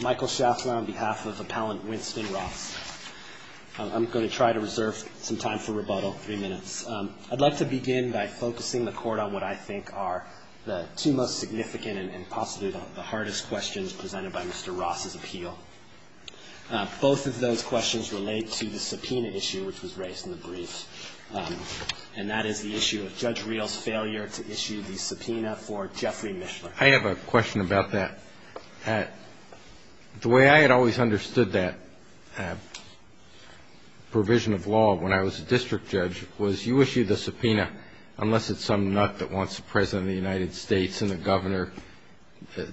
Michael Schaffler on behalf of Appellant Winston Ross. I'm going to try to reserve some time for rebuttal, three minutes. I'd like to begin by focusing the court on what I think are the two most significant and possibly the hardest questions presented by Mr. Ross' appeal. Both of those questions relate to the subpoena issue which was raised in the brief and that is the issue of Judge Rehl's failure to issue the subpoena for Jeffrey Mishler. I have a question about that. The way I had always understood that provision of law when I was a district judge was you issue the subpoena unless it's some nut that wants the President of the United States and the Governor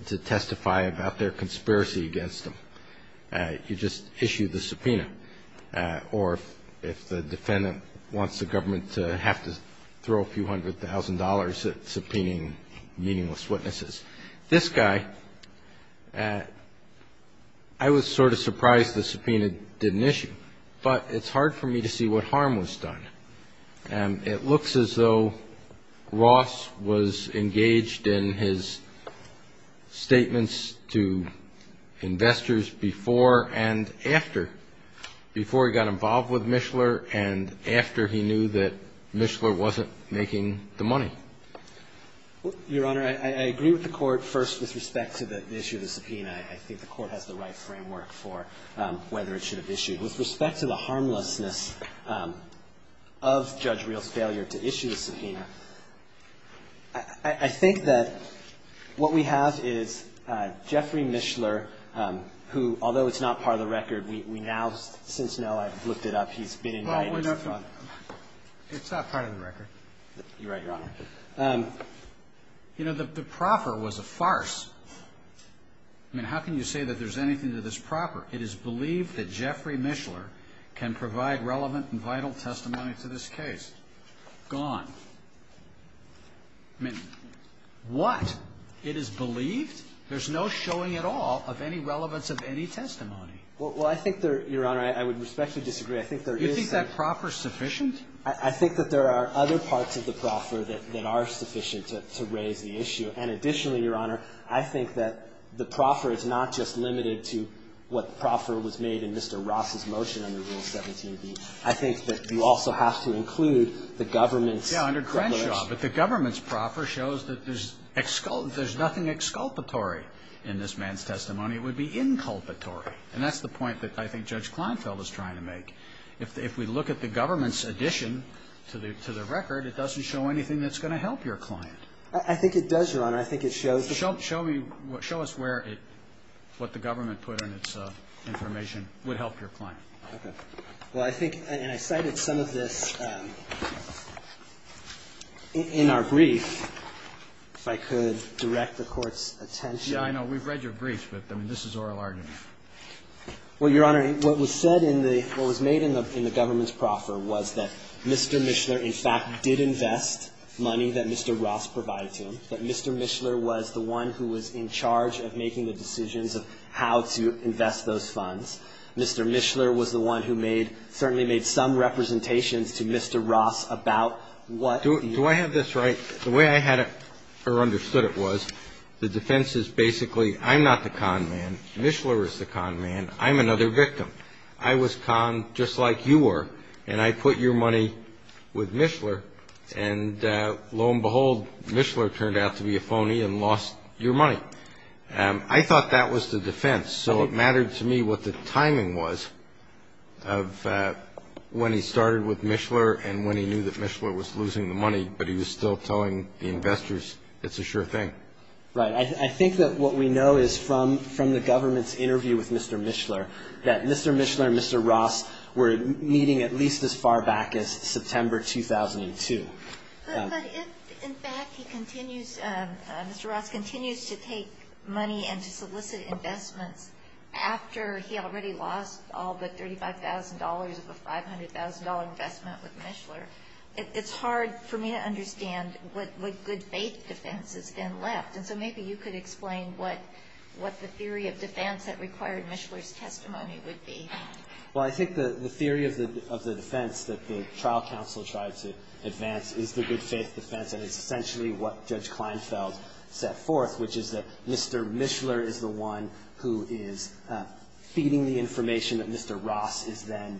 to testify about their conspiracy against him. You just issue the subpoena or if the defendant wants the government to have to throw a few hundred thousand dollars at subpoenaing meaningless witnesses. This guy, I was sort of surprised the subpoena didn't issue but it's hard for me to see what harm was done. It looks as though Ross was engaged in his statements to investors before and after, before he got involved with Mishler and after he knew that Mishler wasn't making the money. Your Honor, I agree with the Court first with respect to the issue of the subpoena. I think the Court has the right framework for whether it should have issued. With respect to the harmlessness of Judge Rehl's failure to issue the subpoena, I think that what we have is Jeffrey Mishler who, although it's not part of the record, we now since now have looked it up. He's been in writing. You're right, Your Honor. You know, the proffer was a farce. I mean, how can you say that there's anything to this proffer? It is believed that Jeffrey Mishler can provide relevant and vital testimony to this case. Gone. I mean, what? It is believed? There's no showing at all of any relevance of any testimony. Well, I think there, Your Honor, I would respectfully disagree. I think there is. You think that proffer's sufficient? I think that there are other parts of the proffer that are sufficient to raise the issue. And additionally, Your Honor, I think that the proffer is not just limited to what proffer was made in Mr. Ross's motion under Rule 17b. I think that you also have to include the government's. Yeah, under Crenshaw. But the government's proffer shows that there's nothing exculpatory in this man's testimony. It would be inculpatory. And that's the point that I think Judge Kleinfeld is trying to make. If we look at the government's addition to the record, it doesn't show anything that's going to help your client. I think it does, Your Honor. I think it shows that. Show me, show us where it, what the government put in its information would help your client. Okay. Well, I think, and I cited some of this in our brief, if I could direct the Court's attention. Yeah, I know. We've read your brief, but I mean, this is oral argument. Well, Your Honor, what was said in the, what was made in the government's proffer was that Mr. Mishler, in fact, did invest money that Mr. Ross provided to him, that Mr. Mishler was the one who was in charge of making the decisions of how to invest those funds. Mr. Mishler was the one who made, certainly made some representations to Mr. Ross about what he. Do I have this right? The way I had it, or understood it was, the defense is basically, I'm not the con man. Mishler is the con man. I'm another victim. I was con, just like you were, and I put your money with Mishler, and lo and behold, Mishler turned out to be a phony and lost your money. I thought that was the defense. So it mattered to me what the timing was of when he started with Mishler and when he knew that Mishler was losing the money, but he was still telling the investors, it's a sure thing. Right. I think that what we know is from the government's interview with Mr. Mishler, that Mr. Mishler and Mr. Ross were meeting at least as far back as September 2002. But if, in fact, he continues, Mr. Ross continues to take money and to solicit investments after he already lost all but $35,000 of a $500,000 investment with Mishler, it's hard for me to understand what good faith defense is then left. And so maybe you could explain what the theory of defense that required Mishler's testimony would be. Well, I think the theory of the defense that the trial counsel tried to advance is the good faith defense, and it's essentially what Judge Kleinfeld set forth, which is that Mr. Mishler is the one who is feeding the information that Mr. Ross is then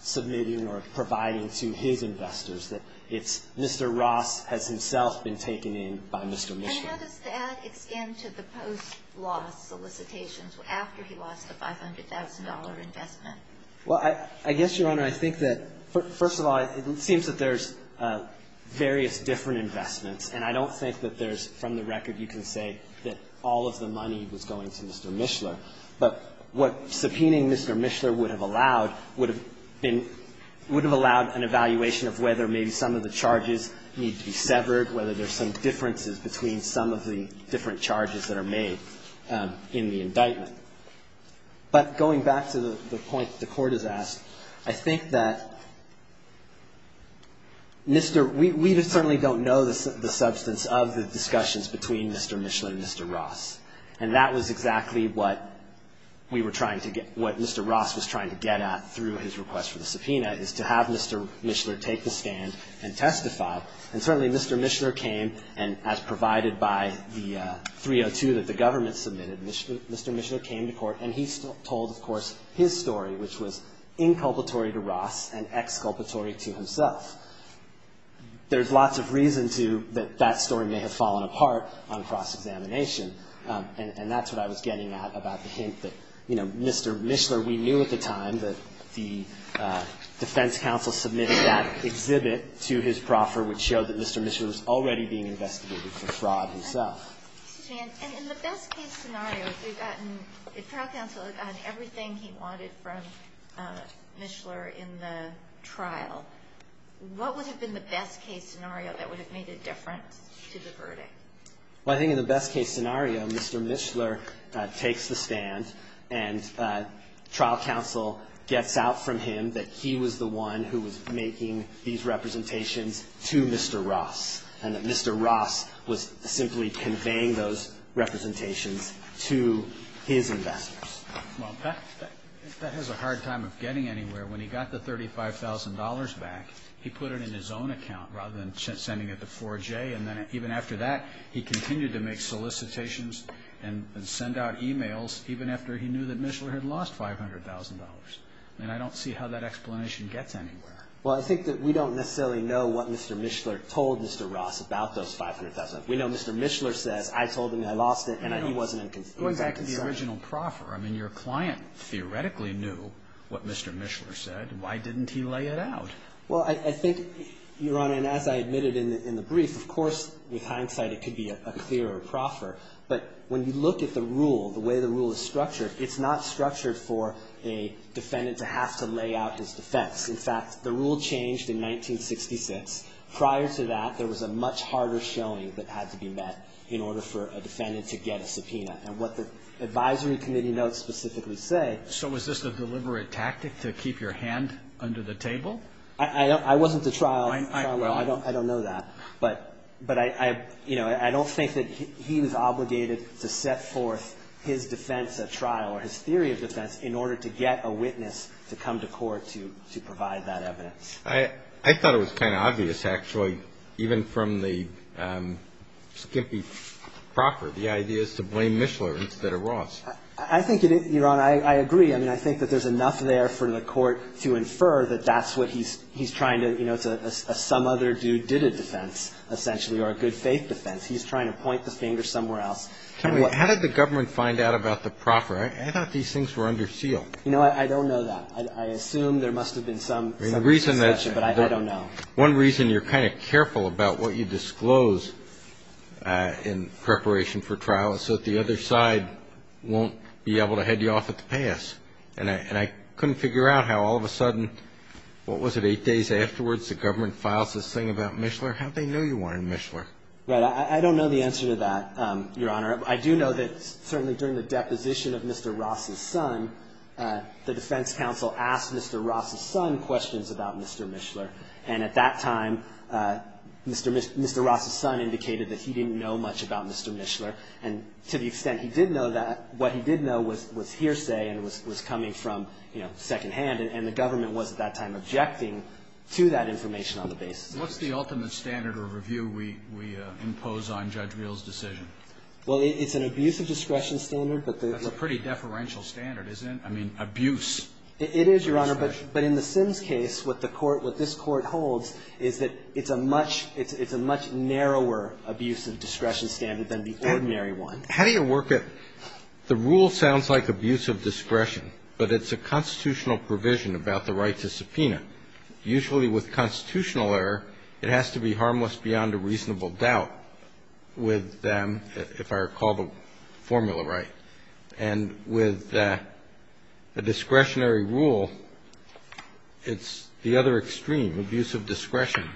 submitting or providing to his investors, that it's Mr. Ross has himself been taken in by Mr. Mishler. And how does that extend to the post-loss solicitations after he lost a $500,000 Well, I guess, Your Honor, I think that, first of all, it seems that there's various different investments, and I don't think that there's from the record you can say that all of the money was going to Mr. Mishler. But what subpoenaing Mr. Mishler would have allowed would have been, would have allowed an evaluation of whether maybe some of the charges need to be severed, whether there's some differences between some of the different charges that are made in the indictment. But going back to the point that the Court has asked, I think that Mr. We certainly don't know the substance of the discussions between Mr. Mishler and Mr. Ross, and that was exactly what we were trying to get, what Mr. Ross was trying to get at through his request for the subpoena, is to have Mr. Mishler take the stand and testify. And certainly Mr. Mishler came, and as provided by the 302 that the government submitted, Mr. Mishler came to court and he told, of course, his story, which was inculpatory to Ross and exculpatory to himself. There's lots of reason to, that that story may have fallen apart on cross-examination, and that's what I was getting at about the hint that, you know, Mr. Mishler, we knew at the time that the defense counsel submitted that exhibit to his proffer, which showed that Mr. Mishler was already being investigated for fraud himself. And in the best case scenario, if we've gotten, if trial counsel had gotten everything he wanted from Mishler in the trial, what would have been the best case scenario that would have made a difference to the verdict? Well, I think in the best case scenario, Mr. Mishler takes the stand, and trial counsel gets out from him that he was the one who was making these representations to Mr. Ross, and that Mr. Ross was simply conveying those representations to his investors. Well, that has a hard time of getting anywhere. When he got the $35,000 back, he put it in his own account rather than sending it to 4J, and then even after that, he continued to make solicitations and send out e-mails even after he knew that Mishler had lost $500,000. And I don't see how that explanation gets anywhere. Well, I think that we don't necessarily know what Mr. Mishler told Mr. Ross about those $500,000. We know Mr. Mishler says, I told him I lost it, and he wasn't in concern. It was actually the original proffer. I mean, your client theoretically knew what Mr. Mishler said. Why didn't he lay it out? Well, I think, Your Honor, and as I admitted in the brief, of course, with hindsight, it could be a clear proffer. But when you look at the rule, the way the rule is structured, it's not structured for a defendant to have to lay out his defense. In fact, the rule changed in 1966. Prior to that, there was a much harder showing that had to be met in order for a defendant to get a subpoena. And what the advisory committee notes specifically say So was this a deliberate tactic to keep your hand under the table? I wasn't to trial, Your Honor. I don't know that. But I don't think that he was obligated to set forth his defense at trial or his theory of defense in order to get a witness to come to court to provide that evidence. I thought it was kind of obvious, actually, even from the skimpy proffer, the idea is to blame Mishler instead of Ross. I think, Your Honor, I agree. I mean, I think that there's enough there for the court to infer that that's what he's trying to, you know, some other dude did a defense, essentially, or a good faith defense. He's trying to point the finger somewhere else. Tell me, how did the government find out about the proffer? I thought these things were under seal. You know, I don't know that. I assume there must have been some discussion, but I don't know. One reason you're kind of careful about what you disclose in preparation for trial is so that the other side won't be able to head you off at the pass. And I couldn't figure out how all of a sudden, what was it, eight days afterwards the government files this thing about Mishler? How'd they know you wanted Mishler? I don't know the answer to that, Your Honor. I do know that certainly during the deposition of Mr. Ross' son, the defense counsel asked Mr. Ross' son questions about Mr. Mishler. And at that time, Mr. Ross' son indicated that he didn't know much about Mr. Mishler. And to the extent he did know that, what he did know was hearsay and was coming from, you know, secondhand. And the government was at that time objecting to that information on the basis of that. What's the ultimate standard or review we impose on Judge Reel's decision? Well, it's an abuse of discretion standard. That's a pretty deferential standard, isn't it? I mean, abuse. It is, Your Honor. But in the Sims case, what the Court, what this Court holds is that it's a much narrower abuse of discretion standard than the ordinary one. How do you work it? The rule sounds like abuse of discretion, but it's a constitutional provision about the right to subpoena. Usually with constitutional error, it has to be harmless beyond a reasonable doubt with them, if I recall the formula right. And with a discretionary rule, it's the other extreme, abuse of discretion.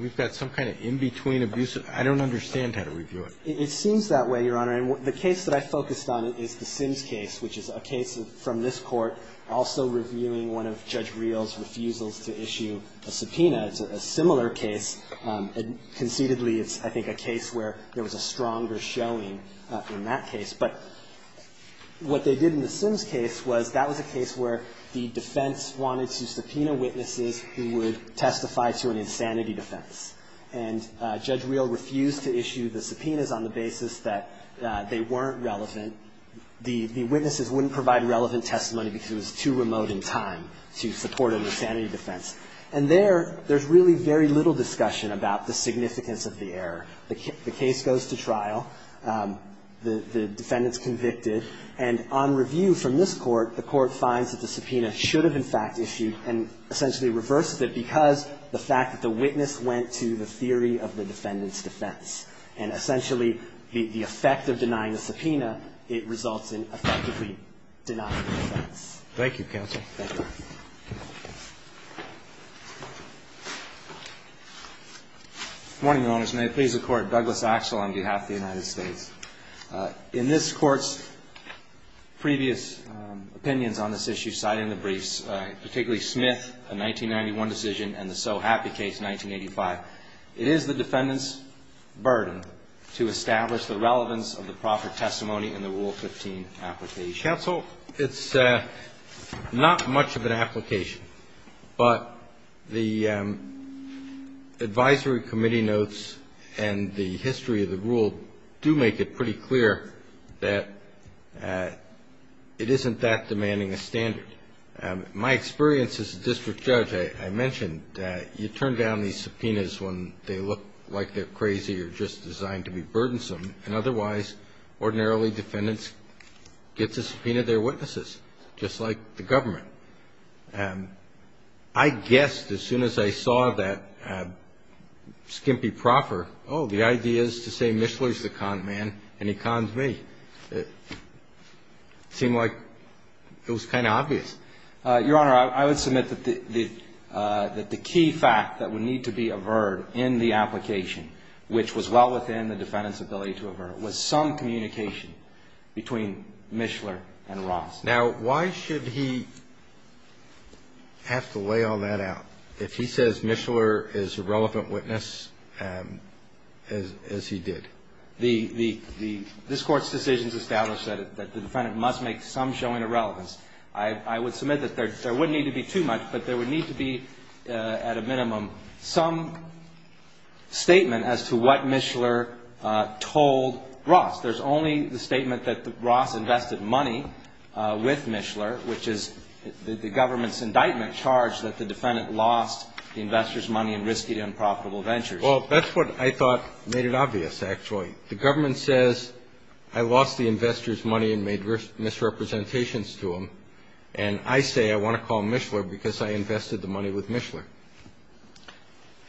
We've got some kind of in-between abuse. I don't understand how to review it. It seems that way, Your Honor. And the case that I focused on is the Sims case, which is a case from this Court also reviewing one of Judge Reel's refusals to issue a subpoena. It's a similar case. Conceitedly, it's, I think, a case where there was a stronger showing in that case. But what they did in the Sims case was that was a case where the defense wanted to subpoena witnesses who would testify to an insanity defense. And Judge Reel refused to issue the subpoenas on the basis that they weren't relevant. The witnesses wouldn't provide relevant testimony because it was too remote in time to support an insanity defense. And there, there's really very little discussion about the significance of the error. The case goes to trial. The defendant's convicted. And on review from this Court, the Court finds that the subpoena should have, in fact, issued and essentially reversed it because the fact that the witness went to the theory of the defendant's defense. And essentially, the effect of denying the subpoena, it results in effectively denying the defense. Thank you, Counsel. Thank you. Good morning, Your Honors. May it please the Court. Douglas Axel on behalf of the United States. In this Court's previous opinions on this issue, citing the briefs, particularly Smith, the 1991 decision, and the so happy case, 1985, it is the defendant's burden to establish the relevance of the proffer testimony in the Rule 15 application. Counsel, it's not much of an application. But the advisory committee notes and the history of the rule do make it pretty clear that it isn't that demanding a standard. My experience as a district judge, I mentioned that you turn down these subpoenas when they look like they're crazy or just designed to be burdensome, and otherwise, ordinarily, defendants get to subpoena their witnesses, just like the government. I guessed as soon as I saw that skimpy proffer, oh, the idea is to say Mishler's the con man and he cons me. It seemed like it was kind of obvious. Your Honor, I would submit that the key fact that would need to be averred in the application, which was well within the defendant's ability to avert, was some communication between Mishler and Ross. Now, why should he have to lay all that out if he says Mishler is a relevant witness as he did? This Court's decisions establish that the defendant must make some showing of relevance. I would submit that there wouldn't need to be too much, but there would need to be, at a minimum, some statement as to what Mishler told Ross. There's only the statement that Ross invested money with Mishler, which is the government's indictment charged that the defendant lost the investor's money and risked it in profitable ventures. Well, that's what I thought made it obvious, actually. The government says I lost the investor's money and made misrepresentations to him, and I say I want to call Mishler because I invested the money with Mishler.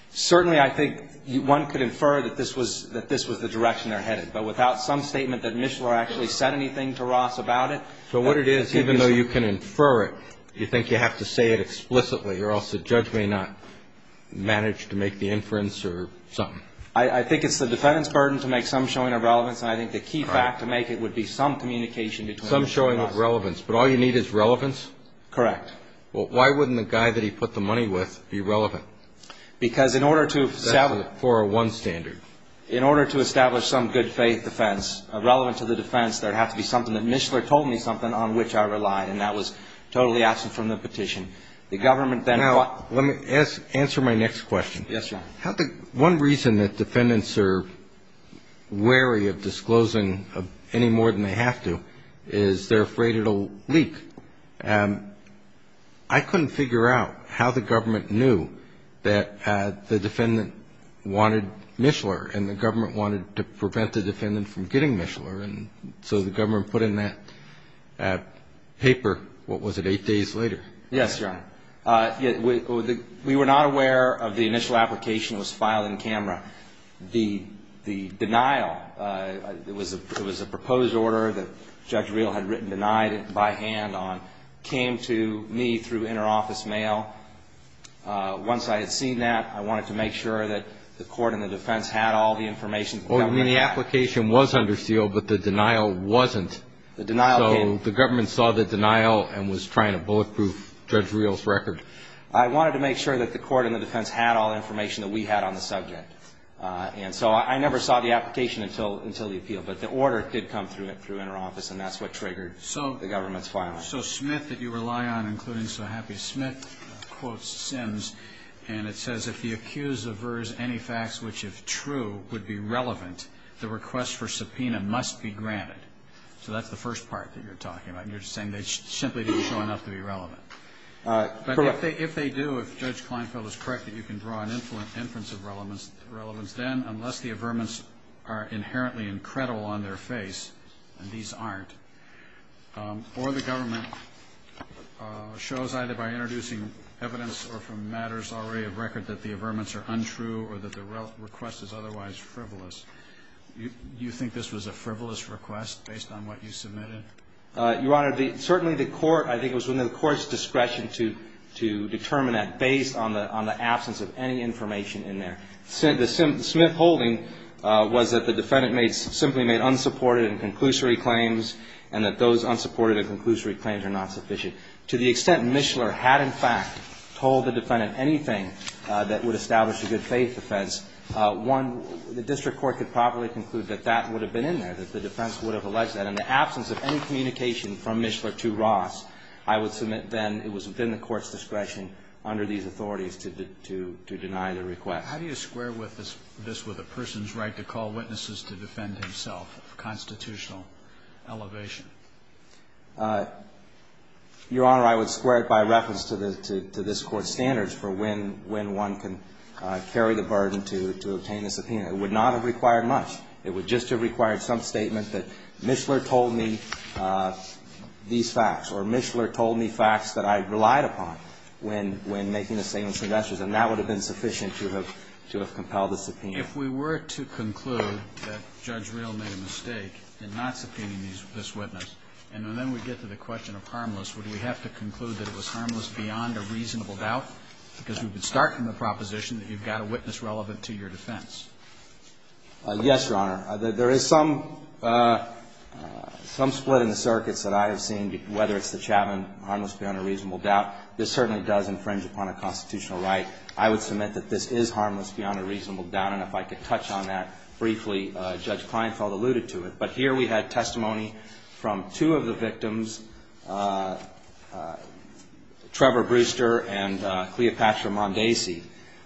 Certainly, I think one could infer that this was the direction they're headed, but without some statement that Mishler actually said anything to Ross about it. So what it is, even though you can infer it, you think you have to say it explicitly or else the judge may not manage to make the inference or something? I think it's the defendant's burden to make some showing of relevance, and I think the key fact to make it would be some communication between them. Some showing of relevance, but all you need is relevance? Correct. Well, why wouldn't the guy that he put the money with be relevant? Because in order to establish some good faith defense, relevant to the defense, there would have to be something that Mishler told me something on which I relied, and that was totally absent from the petition. Now, let me answer my next question. Yes, Your Honor. One reason that defendants are wary of disclosing any more than they have to is they're afraid it will leak. I couldn't figure out how the government knew that the defendant wanted Mishler and the government wanted to prevent the defendant from getting Mishler, and so the government put in that paper, what was it, eight days later? Yes, Your Honor. We were not aware of the initial application that was filed in camera. The denial, it was a proposed order that Judge Reel had written denied by hand on, came to me through interoffice mail. Once I had seen that, I wanted to make sure that the court and the defense had all the information. Well, I mean, the application was under seal, but the denial wasn't. The denial came. The defense saw the denial and was trying to bulletproof Judge Reel's record. I wanted to make sure that the court and the defense had all the information that we had on the subject, and so I never saw the application until the appeal, but the order did come through interoffice, and that's what triggered the government's filing. So Smith, that you rely on, including so happy Smith, quotes Sims, and it says, if the accused averts any facts which, if true, would be relevant, the request for subpoena must be granted. So that's the first part that you're talking about. You're saying they simply didn't show enough to be relevant. Correct. But if they do, if Judge Kleinfeld is correct that you can draw an inference of relevance, then unless the averments are inherently incredible on their face, and these aren't, or the government shows either by introducing evidence or from matters already of record that the averments are untrue or that the request is otherwise frivolous, do you think this was a frivolous request based on what you submitted? Your Honor, certainly the court, I think it was within the court's discretion to determine that based on the absence of any information in there. The Smith holding was that the defendant simply made unsupported and conclusory claims and that those unsupported and conclusory claims are not sufficient. To the extent Mishler had, in fact, told the defendant anything that would establish a good faith offense, one, the district court could probably conclude that that would have been in there, that the defense would have alleged that. In the absence of any communication from Mishler to Ross, I would submit then it was within the court's discretion under these authorities to deny the request. How do you square this with a person's right to call witnesses to defend himself of constitutional elevation? Your Honor, I would square it by reference to this Court's standards for when one can carry the burden to obtain a subpoena. It would not have required much. It would just have required some statement that Mishler told me these facts or Mishler told me facts that I relied upon when making a statement to the judge. And that would have been sufficient to have compelled the subpoena. If we were to conclude that Judge Reel made a mistake in not subpoenaing this witness and then we get to the question of harmless, would we have to conclude that it was harmless beyond a reasonable doubt? Because we would start from the proposition that you've got a witness relevant to your defense. Yes, Your Honor. There is some split in the circuits that I have seen, whether it's the Chapman harmless beyond a reasonable doubt. This certainly does infringe upon a constitutional right. I would submit that this is harmless beyond a reasonable doubt. And if I could touch on that briefly, Judge Kleinfeld alluded to it. But here we had testimony from two of the victims, Trevor Brewster and Cleopatra Mondesi,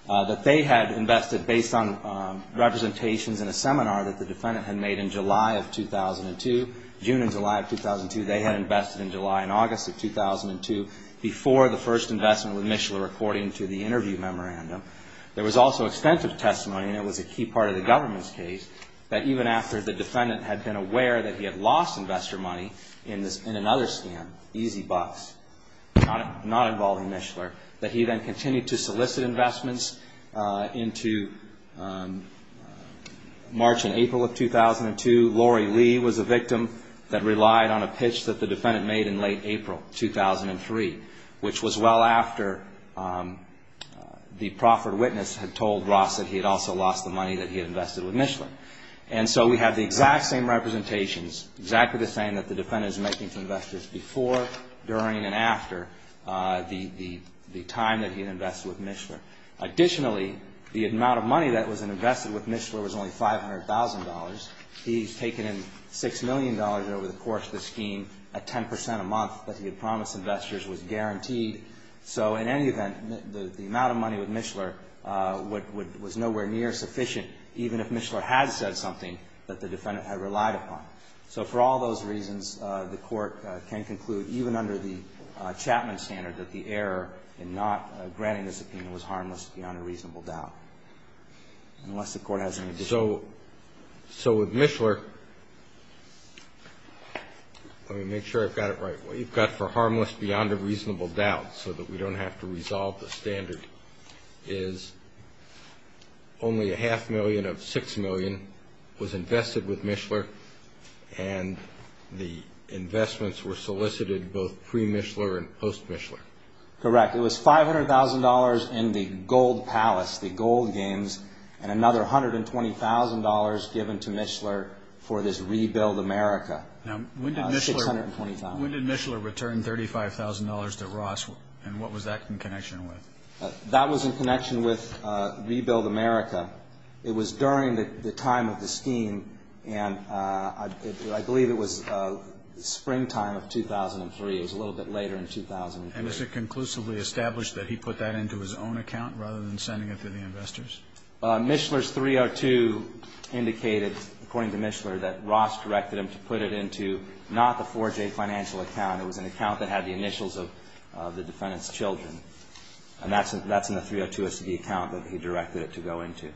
that they had invested, based on representations in a seminar that the defendant had made in July of 2002, June and July of 2002, they had invested in July and August of 2002 before the first investment with Mishler according to the interview memorandum. There was also extensive testimony, and it was a key part of the government's case, that even after the defendant had been aware that he had lost investor money in another scam, Easy Bucks, not involving Mishler, that he then continued to solicit investments into March and April of 2002. Lori Lee was a victim that relied on a pitch that the defendant made in late April 2003, which was well after the proffered witness had told Ross that he had also lost the money that he had invested with Mishler. And so we have the exact same representations, exactly the same that the defendant is making to investors before, during, and after the time that he had invested with Mishler. Additionally, the amount of money that was invested with Mishler was only $500,000. He's taken in $6 million over the course of the scheme at 10 percent a month that he had promised investors was guaranteed. So in any event, the amount of money with Mishler was nowhere near sufficient even if Mishler had said something that the defendant had relied upon. So for all those reasons, the Court can conclude, even under the Chapman standard, that the error in not granting the subpoena was harmless beyond a reasonable doubt, unless the Court has any discussion. Roberts. So with Mishler, let me make sure I've got it right. What you've got for harmless beyond a reasonable doubt so that we don't have to resolve the standard is only a half million of $6 million was invested with Mishler and the investments were solicited both pre-Mishler and post-Mishler. Correct. It was $500,000 in the gold palace, the gold games, and another $120,000 given to Mishler for this rebuild America. Now, when did Mishler return $35,000 to Ross and what was that in connection with? That was in connection with rebuild America. It was during the time of the scheme and I believe it was springtime of 2003. It was a little bit later in 2003. And is it conclusively established that he put that into his own account rather than sending it to the investors? Mishler's 302 indicated, according to Mishler, that Ross directed him to put it into not the 4J financial account. It was an account that had the initials of the defendant's children. And that's in the 302 SD account that he directed it to go into.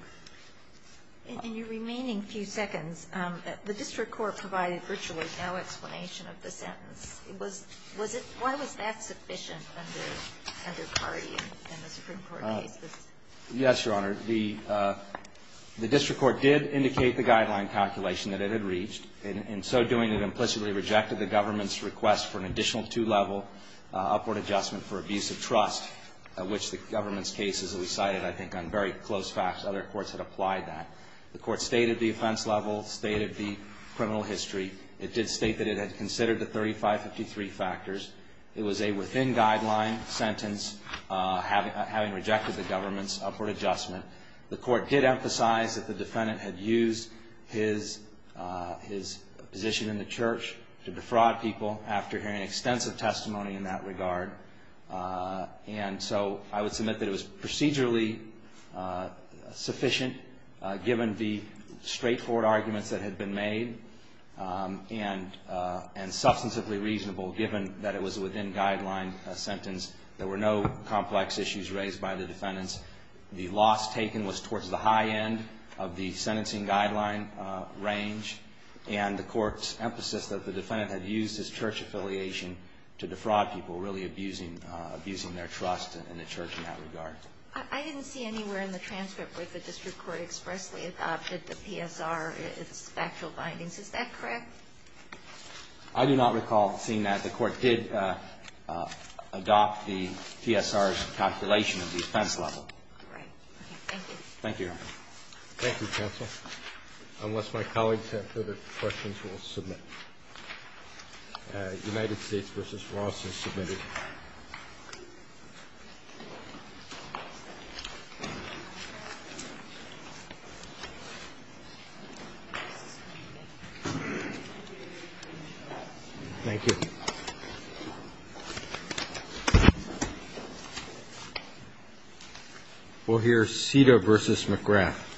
In your remaining few seconds, the district court provided virtually no explanation of the sentence. Why was that sufficient under Cardi in the Supreme Court case? Yes, Your Honor. The district court did indicate the guideline calculation that it had reached. In so doing, it implicitly rejected the government's request for an additional two-level upward adjustment for abuse of trust, which the government's case, as we cited, I think on very close facts, other courts had applied that. The court stated the offense level, stated the criminal history. It did state that it had considered the 3553 factors. It was a within-guideline sentence, having rejected the government's request for an adjustment. The court did emphasize that the defendant had used his position in the church to defraud people after hearing extensive testimony in that regard. And so I would submit that it was procedurally sufficient, given the straightforward arguments that had been made, and substantively reasonable, given that it was a within-guideline sentence. There were no complex issues raised by the defendants. The loss taken was towards the high end of the sentencing guideline range, and the court's emphasis that the defendant had used his church affiliation to defraud people, really abusing their trust in the church in that regard. I didn't see anywhere in the transcript where the district court expressly adopted the PSR, its factual findings. Is that correct? I do not recall seeing that. The court did adopt the PSR's calculation of the offense level. All right. Thank you. Thank you, Your Honor. Thank you, counsel. Unless my colleagues have further questions, we'll submit. United States v. Ross is submitted. Thank you. We'll hear Cedar v. McGrath.